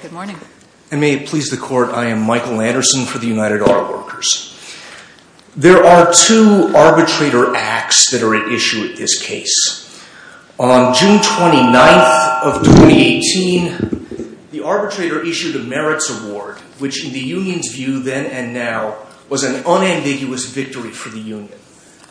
Good morning. And may it please the Court, I am Michael Anderson for the United Art Workers. There are two arbitrator acts that are at issue at this case. On June 29th of 2018, the arbitrator issued a merits award, which in the Union's view then and now was an unambiguous victory for the Union.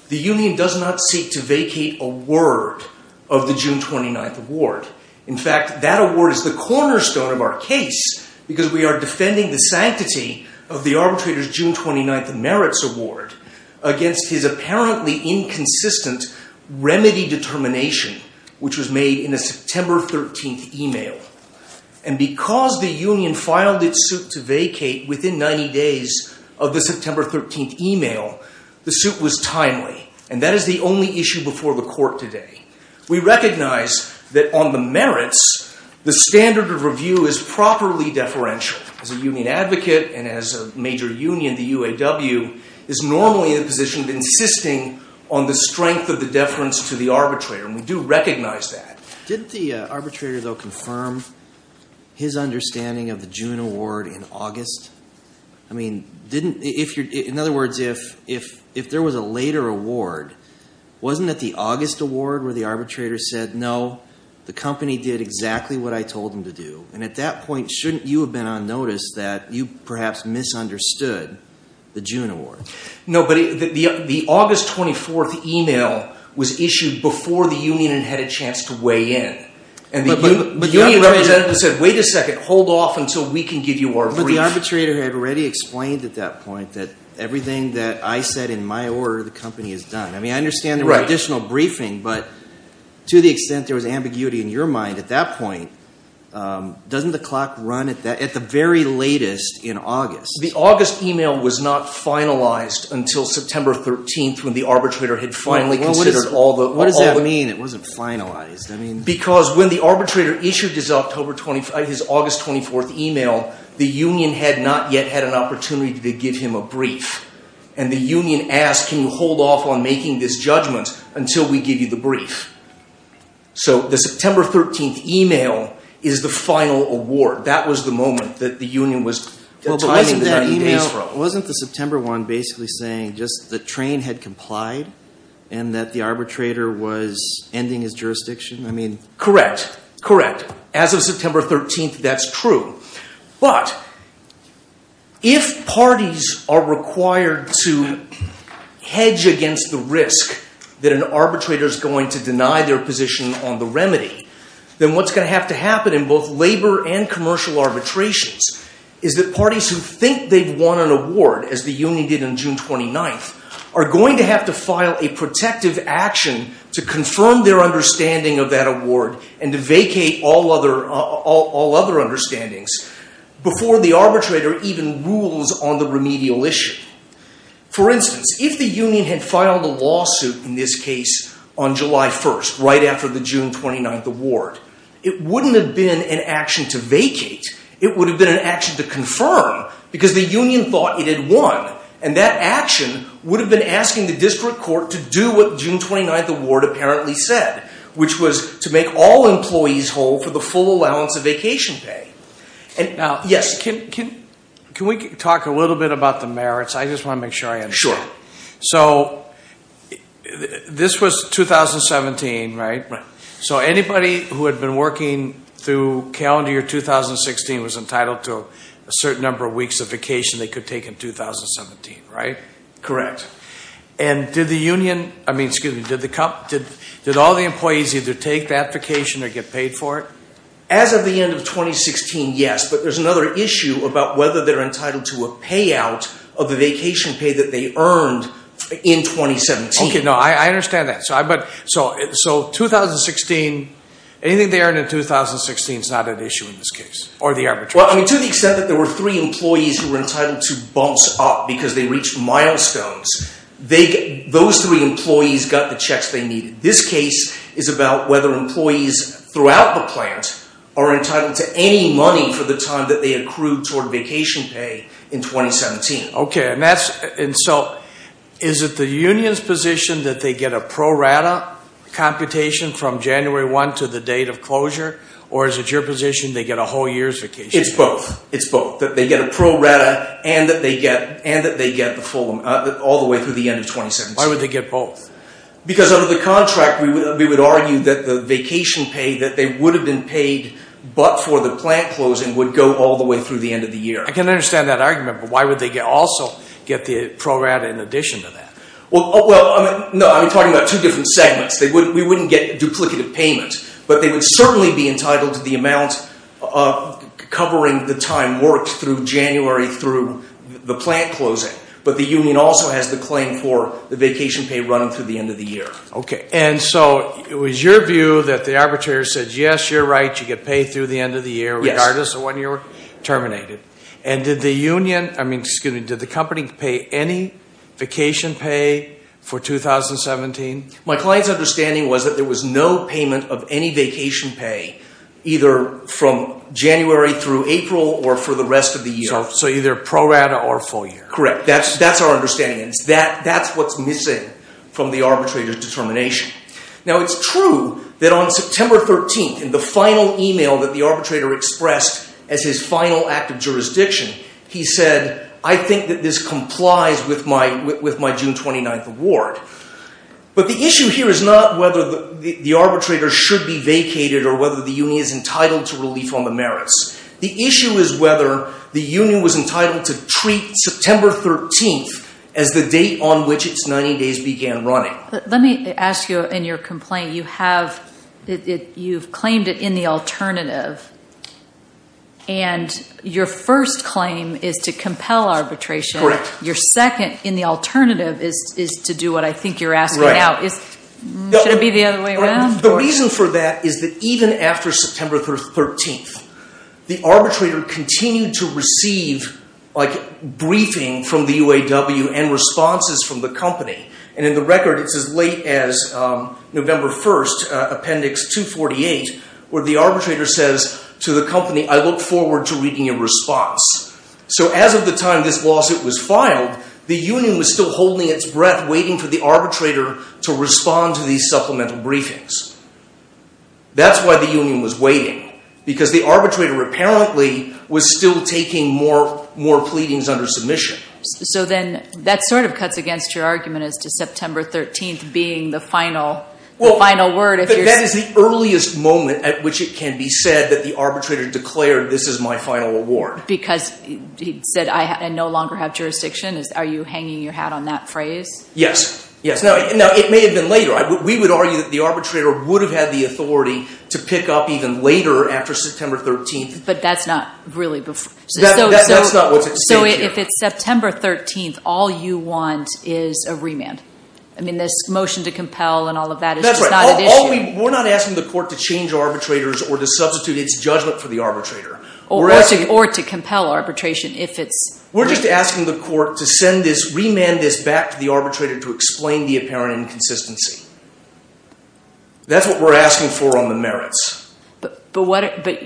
The Union does not seek to vacate a word of the June 29th award. In fact, that award is the cornerstone of our case because we are defending the sanctity of the arbitrator's June 29th merits award against his apparently inconsistent remedy determination, which was made in a September 13th email. And because the Union filed its suit to vacate within 90 days of the September 13th email, the suit was timely. And that is the only issue before the Court today. We recognize that on the merits, the standard of review is properly deferential. As a Union advocate and as a major union, the UAW is normally in a position of insisting on the strength of the deference to the arbitrator, and we do recognize that. Didn't the arbitrator, though, confirm his understanding of the June award in August? I mean, didn't, in other words, if there was a later award, wasn't it the August award where the arbitrator said, no, the company did exactly what I told them to do? And at that point, shouldn't you have been on notice that you perhaps misunderstood the June award? No, but the August 24th email was issued before the Union had a chance to weigh in. And the Union representative said, wait a second, hold off until we can give you our brief. But the arbitrator had already explained at that point that everything that I said in my order, the company has done. I mean, I understand there was additional briefing, but to the extent there was ambiguity in your mind at that point, doesn't the clock run at the very latest in August? The August email was not finalized until September 13th when the arbitrator had finally considered all the... What does that mean, it wasn't finalized? Because when the arbitrator issued his August 24th email, and the Union asked, can you hold off on making this judgment until we give you the brief? So the September 13th email is the final award. That was the moment that the Union was... Well, but wasn't that email, wasn't the September one basically saying just the train had complied and that the arbitrator was ending his jurisdiction? I mean... Correct, correct. As of September 13th, that's true. But if parties are required to hedge against the risk that an arbitrator is going to deny their position on the remedy, then what's going to have to happen in both labor and commercial arbitrations is that parties who think they've won an award, as the Union did on June 29th, are going to have to file a protective action to confirm their understanding of that award and to vacate all other understandings before the arbitrator even rules on the remedial issue. For instance, if the Union had filed a lawsuit in this case on July 1st, right after the June 29th award, it wouldn't have been an action to vacate, it would have been an action to confirm because the Union thought it had won and that action would have been asking the district court to do what June 29th award apparently said, which was to make all employees whole for the full allowance of vacation pay. Now, can we talk a little bit about the merits? I just want to make sure I understand. So, this was 2017, right? Right. So, anybody who had been working through calendar year 2016 was entitled to a certain number of weeks of vacation they could take in 2017, right? Correct. And did the Union, I mean, excuse me, did all the employees either take that vacation or get paid for it? As of the end of 2016, yes, but there's another issue about whether they're entitled to a payout of the vacation pay that they earned in 2017. Okay, no, I understand that. So, 2016, anything they earned in 2016 is not an issue in this case or the arbitration. Well, I mean, to the extent that there were three employees who were entitled to bumps up because they reached milestones, those three employees got the checks they needed. This case is about whether employees throughout the plant are entitled to any money for the time that they accrued toward vacation pay in 2017. Okay, and so, is it the Union's position that they get a pro rata computation from January 1 to the date of closure, or is it your position they get a whole year's vacation? It's both. It's both, that they get a pro rata and that they get the full amount all the way through the end of 2017. Why would they get both? Because under the contract, we would argue that the vacation pay that they would have been paid but for the plant closing would go all the way through the end of the year. I can understand that argument, but why would they also get the pro rata in addition to that? Well, no, I'm talking about two different segments. We wouldn't get duplicative payment, but they would certainly be entitled to the amount covering the time worked through January through the plant closing, but the Union also has the claim for the vacation pay running through the end of the year. Okay, and so, it was your view that the arbitrator said, yes, you're right, you get paid through the end of the year regardless of when you're terminated. And did the Union, I mean, excuse me, did the company pay any vacation pay for 2017? My client's understanding was that there was no payment of any vacation pay either from January through April or for the rest of the year. So, either pro rata or full year? Correct. That's our understanding. That's what's missing from the arbitrator's determination. Now, it's true that on September 13th, in the final email that the arbitrator expressed as his final act of jurisdiction, he said, I think that this complies with my June 29th award. But the issue here is not whether the arbitrator should be vacated or whether the Union is entitled to relief on the merits. The issue is whether the Union was entitled to treat September 13th as the date on which its 90 days began running. Let me ask you in your complaint, you have, you've claimed it in the alternative, and your first claim is to compel arbitration. Correct. Your second in the alternative is to do what I think you're asking now. Should it be the other way around? The reason for that is that even after September 13th, the arbitrator continued to receive, like, briefing from the UAW and responses from the company. And in the record, it's as late as November 1st, Appendix 248, where the arbitrator says to the company, I look forward to reading your response. So as of the time this lawsuit was filed, the Union was still holding its breath, waiting for the arbitrator to respond to these supplemental briefings. That's why the Union was waiting, because the arbitrator apparently was still taking more, more pleadings under submission. So then, that sort of cuts against your argument as to September 13th being the final, the final word, if you're. That is the earliest moment at which it can be said that the arbitrator declared, this is my final award. Because he said, I no longer have jurisdiction. Are you hanging your hat on that phrase? Yes. Yes. Now, it may have been later. We would argue that the arbitrator would have had the authority to pick up even later after September 13th. But that's not really before. That's not what's at stake here. So if it's September 13th, all you want is a remand. I mean, this motion to compel and all of that is just not an issue. We're not asking the court to change arbitrators or to substitute its judgment for the arbitrator. Or to compel arbitration, if it's. We're just asking the court to send this, remand this back to the arbitrator to explain the apparent inconsistency. That's what we're asking for on the merits. But what, but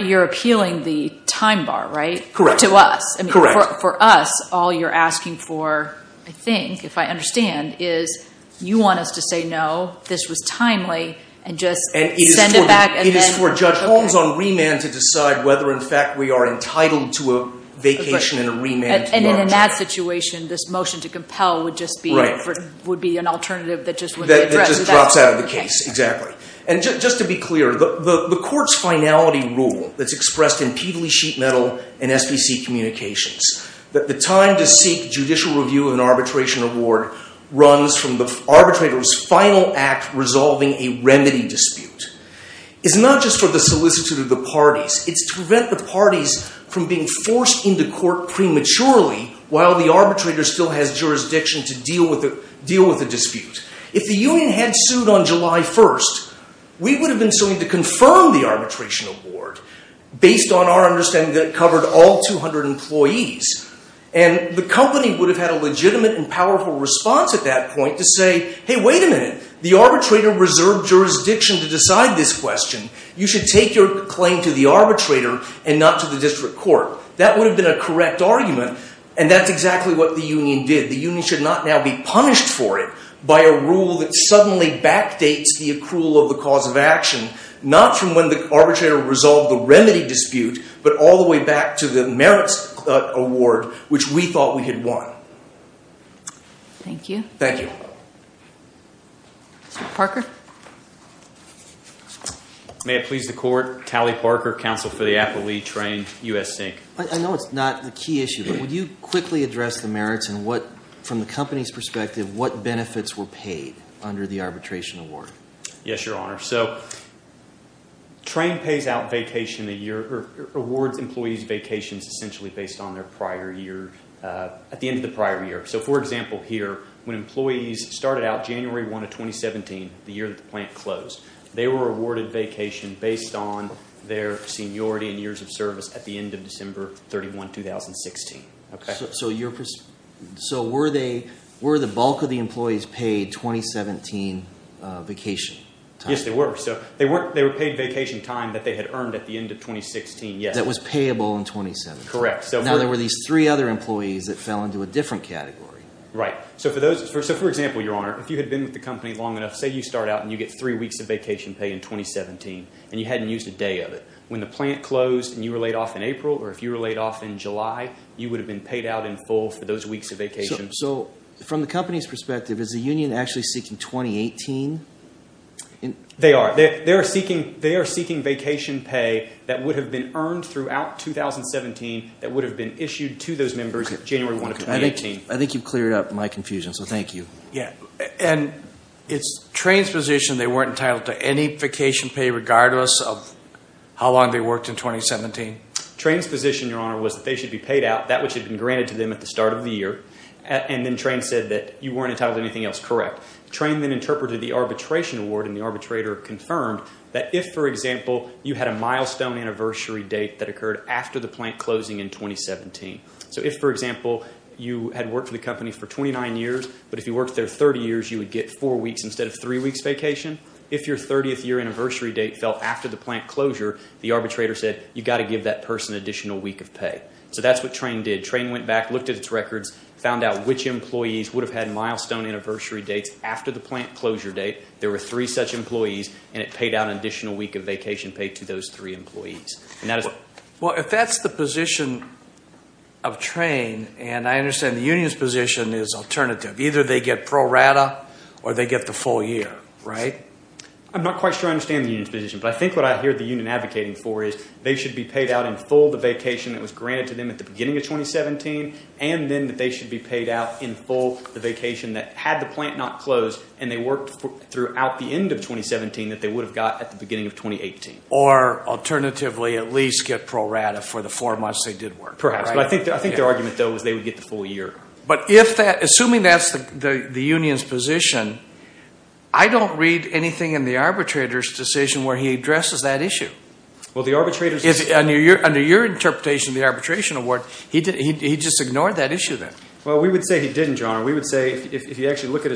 you're appealing the time bar, right? Correct. To us. Correct. For us, all you're asking for, I think, if I understand, is you want us to say no, this was timely, and just send it back. It is for Judge Holmes on remand to decide whether, in fact, we are entitled to a vacation and a remand. And in that situation, this motion to compel would just be an alternative that just wouldn't be addressed. That just drops out of the case. Exactly. And just to be clear, the court's finality rule that's expressed in Peaveley Sheet Metal and SBC Communications, that the time to seek judicial review of an arbitration award runs from the arbitrator's final act resolving a remedy dispute. It's not just for the solicitude of the parties. It's to prevent the parties from being forced into court prematurely while the arbitrator still has jurisdiction to deal with the dispute. If the union had sued on July 1st, we would have been suing to confirm the arbitration award based on our understanding that it covered all 200 employees. And the company would have had a legitimate and powerful response at that point to say, hey, wait a minute, the arbitrator reserved jurisdiction to decide this question. You should take your claim to the arbitrator and not to the district court. That would have been a correct argument, and that's exactly what the union did. The union should not now be punished for it by a rule that suddenly backdates the accrual of the cause of action, not from when the arbitrator resolved the remedy dispute, but all the way back to the merits award, which we thought we had won. Thank you. Thank you. Mr. Parker? May it please the court, Tally Parker, counsel for the affilee, Train, U.S. Inc. I know it's not a key issue, but would you quickly address the merits and what, from the company's perspective, what benefits were paid under the arbitration award? Yes, Your Honor. So, Train pays out vacation a year, or awards employees vacations essentially based on their prior year, at the end of the prior year. So, for example, here, when employees started out January 1 of 2017, the year that the plant closed, they were awarded vacation based on their seniority and years of service at the end of December 31, 2016. Okay? So, were the bulk of the employees paid 2017 vacation time? Yes, they were. So, they were paid vacation time that they had earned at the end of 2016, yes. That was payable in 2017? Correct. Now, there were these three other employees that fell into a different category. Right. So, for example, Your Honor, if you had been with the company long enough, say you start out and you get three weeks of vacation pay in 2017, and you hadn't used a day of it. When the plant closed and you were laid off in April, or if you were laid off in July, you would have been paid out in full for those weeks of vacation. So, from the company's perspective, is the union actually seeking 2018? They are. They are seeking vacation pay that would have been earned throughout 2017 that would have been issued to those members January 1 of 2018. I think you've cleared up my confusion. So, thank you. Yeah. And it's transposition they weren't entitled to any vacation pay regardless of how long they worked in 2017? Transposition, Your Honor, was that they should be paid out, that which had been granted to them at the start of the year, and then Trane said that you weren't entitled to anything else, correct. Trane then interpreted the arbitration award, and the arbitrator confirmed that if, for example, you had a milestone anniversary date that occurred after the plant closing in 2017. So, if, for example, you had worked for the company for 29 years, but if you worked there 30 years, you would get four weeks instead of three weeks vacation. If your 30th year anniversary date fell after the plant closure, the arbitrator said, you've got to give that person an additional week of pay. So, that's what Trane did. Trane went back, looked at its records, found out which employees would have had milestone anniversary dates after the plant closure date. There were three such employees, and it paid out an additional week of vacation pay to those three employees. And that is what... Well, if that's the position of Trane, and I understand the union's position is alternative. Either they get pro rata, or they get the full year, right? I'm not quite sure I understand the union's position, but I think what I hear the union advocating for is they should be paid out in full the vacation that was granted to them at the beginning of 2017, and then that they should be paid out in full the vacation that had the plant not closed, and they worked throughout the end of 2017 that they would have got at the beginning of 2018. Or, alternatively, at least get pro rata for the four months they did work. Perhaps. But I think their argument, though, is they would get the full year. But if that... Assuming that's the union's position, I don't read anything in the arbitrator's decision where he addresses that issue. Well, the arbitrator's... Under your interpretation of the arbitration award, he just ignored that issue, then. Well, we would say he didn't, John. We would say, if you actually look at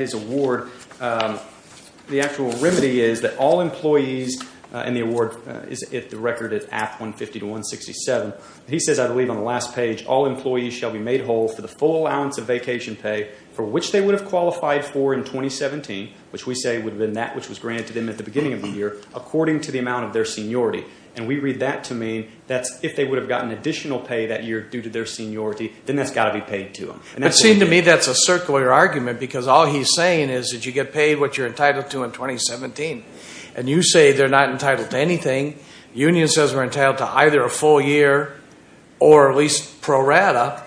his award, the actual remedy is that all employees, and the award is at the record at AP 150 to 167. He says, I believe, on the last page, all employees shall be made whole for the full allowance of vacation pay for which they would have qualified for in 2017, which we say would have been that which was granted to them at the beginning of the year, according to the amount of their seniority. And we read that to mean that if they would have gotten additional pay that year due to their seniority, then that's got to be paid to them. But it seems to me that's a circular argument, because all he's saying is that you get paid what you're entitled to in 2017. And you say they're not entitled to anything. Union says we're entitled to either a full year, or at least pro rata.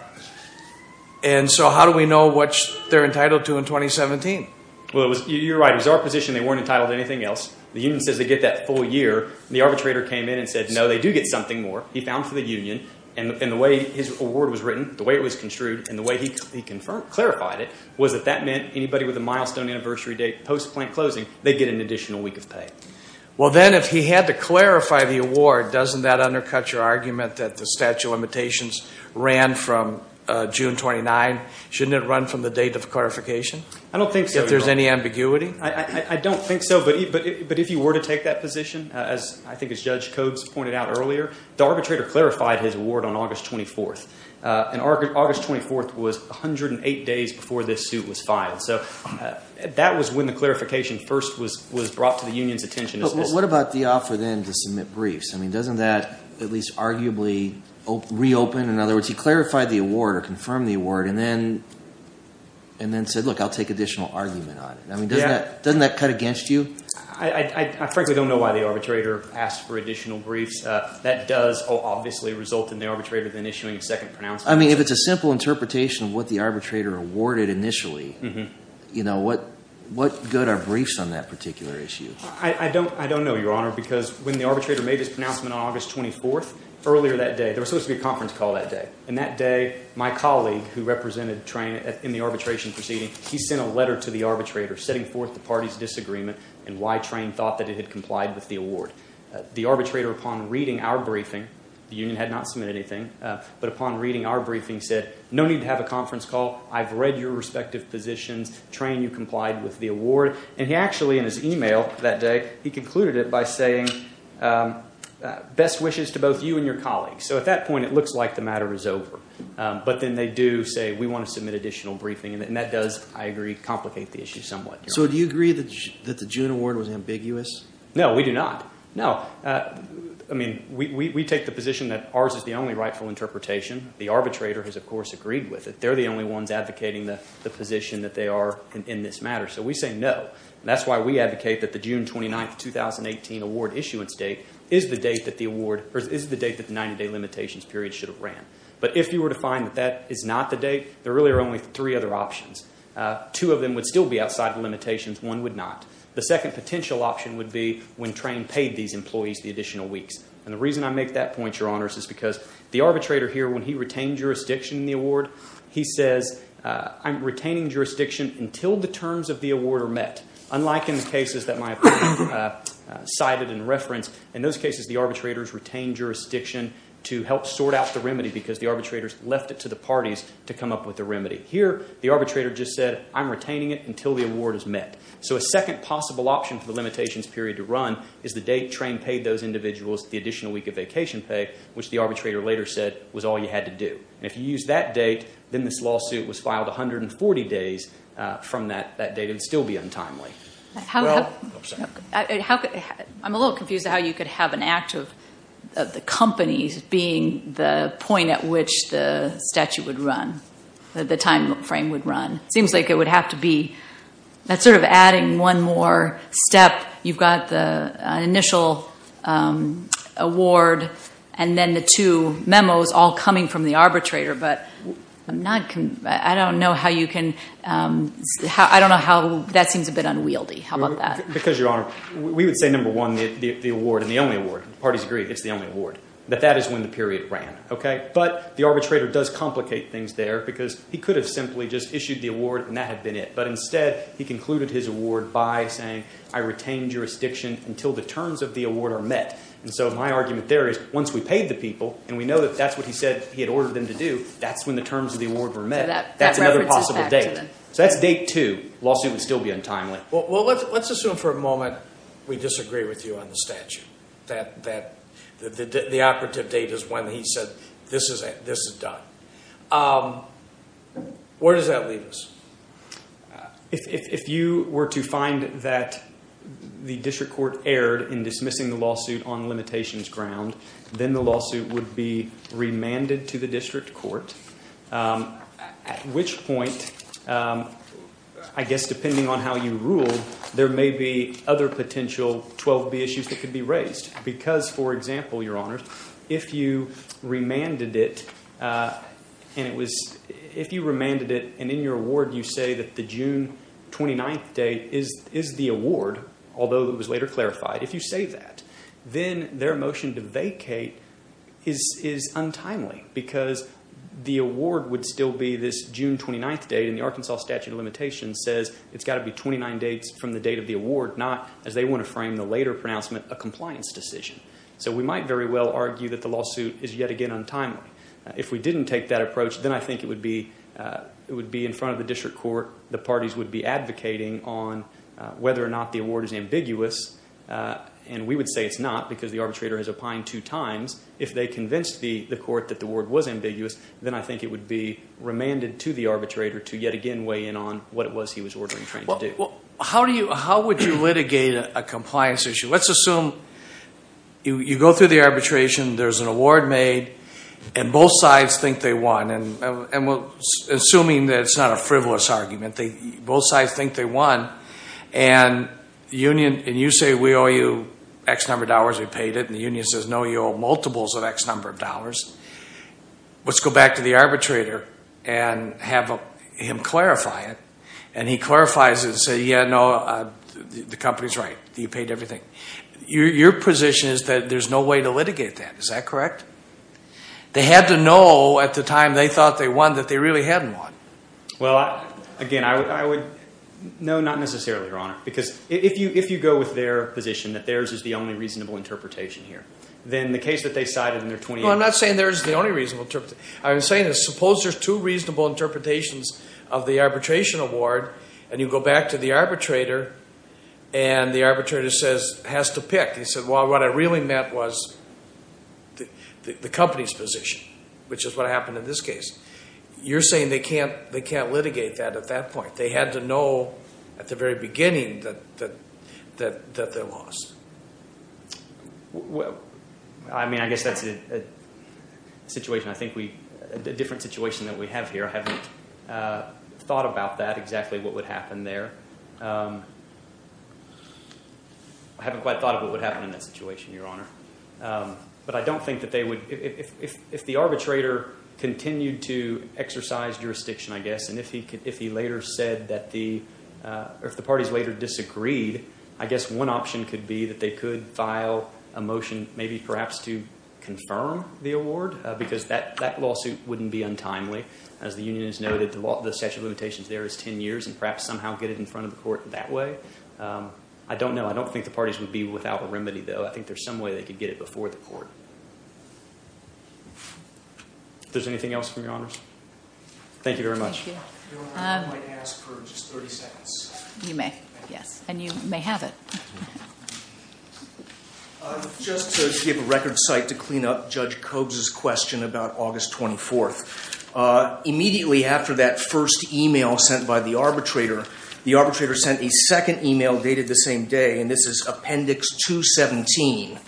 And so how do we know what they're entitled to in 2017? Well, you're right. It was our position they weren't entitled to anything else. The union says they get that full year. The arbitrator came in and said, no, they do get something more. He found for the union. And the way his award was written, the way it was construed, and the way he clarified it was that that meant anybody with a milestone anniversary date post-plant closing, they'd get an additional week of pay. Well, then if he had to clarify the award, doesn't that undercut your argument that the statute of limitations ran from June 29? Shouldn't it run from the date of clarification? I don't think so. If there's any ambiguity? I don't think so. But if you were to take that position, as I think as Judge Coggs pointed out earlier, the arbitrator clarified his award on August 24th. And August 24th was 108 days before this suit was filed. So that was when the clarification first was brought to the union's attention. But what about the offer then to submit briefs? I mean, doesn't that at least arguably reopen? In other words, he clarified the award or confirmed the award and then said, look, I'll take additional argument on it. I mean, doesn't that cut against you? I frankly don't know why the arbitrator asked for additional briefs. That does obviously result in the arbitrator then issuing a second pronouncement. I mean, if it's a simple interpretation of what the arbitrator awarded initially, you know, what good are briefs on that particular issue? I don't know, Your Honor, because when the arbitrator made his pronouncement on August 24th, earlier that day, there was supposed to be a conference call that day. And that day, my colleague who represented Trane in the arbitration proceeding, he sent a letter to the arbitrator setting forth the party's disagreement and why Trane thought that it had complied with the award. The arbitrator, upon reading our briefing, the union had not submitted anything, but upon reading our briefing said, no need to have a conference call. I've read your respective positions. Trane, you complied with the award. And he actually, in his email that day, he concluded it by saying, best wishes to both you and your colleagues. So at that point, it looks like the matter is over. But then they do say, we want to submit additional briefing. And that does, I agree, complicate the issue somewhat. So do you agree that the June award was ambiguous? No, we do not. No. I mean, we take the position that ours is the only rightful interpretation. The arbitrator has, of course, agreed with it. They're the only ones advocating the position that they are in this matter. So we say no. That's why we advocate that the June 29, 2018 award issuance date is the date that the award, or is the date that the 90-day limitations period should have ran. But if you were to find that that is not the date, there really are only three other options. Two of them would still be outside the limitations. One would not. The second potential option would be when Trane paid these employees the additional weeks. And the reason I make that point, Your Honors, is because the arbitrator here, when he retained jurisdiction in the award, he says, I'm retaining jurisdiction until the terms of the award are met. Unlike in the cases that my opponent cited in reference, in those cases the arbitrators retained jurisdiction to help sort out the remedy because the arbitrators left it to the parties to come up with a remedy. Here, the arbitrator just said, I'm retaining it until the award is met. So a second possible option for the limitations period to run is the date Trane paid those individuals the additional week of vacation pay, which the arbitrator later said was all you had to do. And if you use that date, then this lawsuit was filed 140 days from that date. It would still be untimely. Well, I'm sorry. I'm a little confused how you could have an act of the companies being the point at which the statute would run, the time frame would run. It seems like it would have to be, that's sort of adding one more step. You've got the initial award and then the two memos all coming from the arbitrator. But I'm not, I don't know how you can, I don't know how, that seems a bit unwieldy. How about that? Because, Your Honor, we would say number one, the award and the only award. The parties agree it's the only award. But that is when the period ran, okay? But the arbitrator does complicate things there because he could have simply just issued the award and that had been it. But instead, he concluded his award by saying, I retain jurisdiction until the terms of the award are met. And so my argument there is, once we paid the people and we know that that's what he said he had ordered them to do, that's when the terms of the award were met. That's another possible date. So that's date two. Lawsuit would still be untimely. Well, let's assume for a moment we disagree with you on the statute. That the operative date is when he said this is done. Where does that leave us? If you were to find that the district court erred in dismissing the lawsuit on limitations ground, then the lawsuit would be remanded to the district court. At which point, I guess depending on how you ruled, there may be other potential 12B issues that could be raised. Because, for example, Your Honor, if you remanded it and it was, if you remanded it and in your award you say that the June 29th date is the award, although it was later clarified, if you say that, then their motion to vacate is untimely because the award would still be this June 29th date and the Arkansas statute of limitations says it's got to be 29 dates from the date of the award, not, as they want to frame the later pronouncement, a compliance decision. So we might very well argue that the lawsuit is yet again untimely. If we didn't take that approach, then I think it would be in front of the district court. The parties would be advocating on whether or not the award is ambiguous. And we would say it's not because the arbitrator has opined two times. If they convinced the court that the award was ambiguous, then I think it would be remanded to the arbitrator to yet again weigh in on what it was he was ordering to do. Well, how would you litigate a compliance issue? Let's assume you go through the arbitration. There's an award made, and both sides think they won. And assuming that it's not a frivolous argument, both sides think they won. And you say we owe you X number of dollars, we paid it. And the union says, no, you owe multiples of X number of dollars. Let's go back to the arbitrator and have him clarify it. And he clarifies it and says, yeah, no, the company's right, you paid everything. Your position is that there's no way to litigate that. Is that correct? They had to know at the time they thought they won that they really hadn't won. Well, again, I would, no, not necessarily, Your Honor. Because if you go with their position that theirs is the only reasonable interpretation here, then the case that they cited in their 28- Well, I'm not saying theirs is the only reasonable interpretation. I'm saying that suppose there's two reasonable interpretations of the arbitration award, and you go back to the arbitrator and the arbitrator says, has to pick. He said, well, what I really meant was the company's position, which is what happened in this case. You're saying they can't litigate that at that point. They had to know at the very beginning that they lost. Well, I mean, I guess that's a situation. I think we, a different situation that we have here. I haven't thought about that, exactly what would happen there. I haven't quite thought of what would happen in that situation, Your Honor. But I don't think that they would, if the arbitrator continued to exercise jurisdiction, I guess, and if he later said that the, or if the parties later disagreed, I guess one option could be that they could file a motion, maybe perhaps to confirm the award, because that lawsuit wouldn't be untimely. As the union has noted, the statute of limitations there is 10 years, and perhaps somehow get it in front of the court that way. I don't know. I don't think the parties would be without a remedy, though. I think there's some way they could get it before the court. If there's anything else from Your Honors. Thank you very much. Thank you. Your Honor, I might ask for just 30 seconds. You may. Yes. And you may have it. Just to give a record site to clean up Judge Cobes' question about August 24th. Immediately after that first email sent by the arbitrator, the arbitrator sent a second email dated the same day. And this is Appendix 217,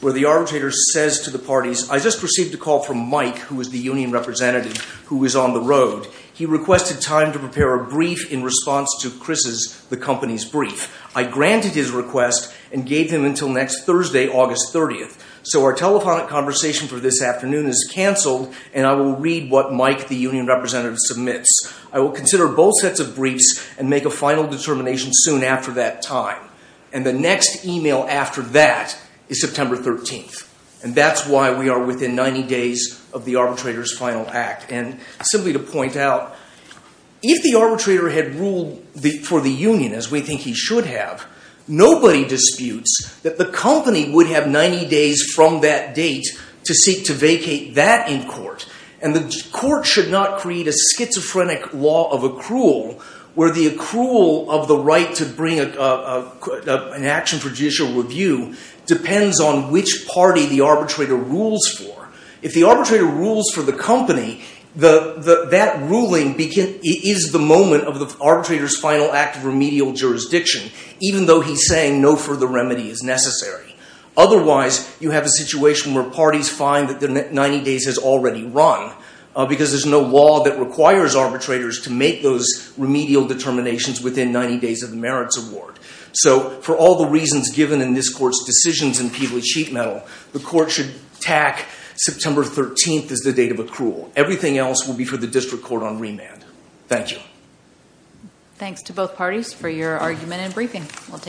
where the arbitrator says to the parties, I just received a call from Mike, who was the union representative, who was on the road. He requested time to prepare a brief in response to Chris's, the company's brief. I granted his request and gave him until next Thursday, August 30th. So our telephonic conversation for this afternoon is canceled, and I will read what Mike, the union representative, submits. I will consider both sets of briefs and make a final determination soon after that time. And the next email after that is September 13th. And that's why we are within 90 days of the arbitrator's final act. And simply to point out, if the arbitrator had ruled for the union, as we think he should have, nobody disputes that the company would have 90 days from that date to seek to vacate that in court. And the court should not create a schizophrenic law of accrual, where the accrual of the right to bring an action for judicial review depends on which party the arbitrator rules for. If the arbitrator rules for the company, that ruling is the moment of the arbitrator's final act of remedial jurisdiction, even though he's saying no further remedy is necessary. Otherwise, you have a situation where parties find that their 90 days has already run, because there's no law that requires arbitrators to make those remedial determinations within 90 days of the merits award. So for all the reasons given in this court's decisions in Peabody Sheet Metal, the court should tack September 13th as the date of accrual. Everything else will be for the district court on remand. Thank you. Thanks to both parties for your argument and briefing. We'll take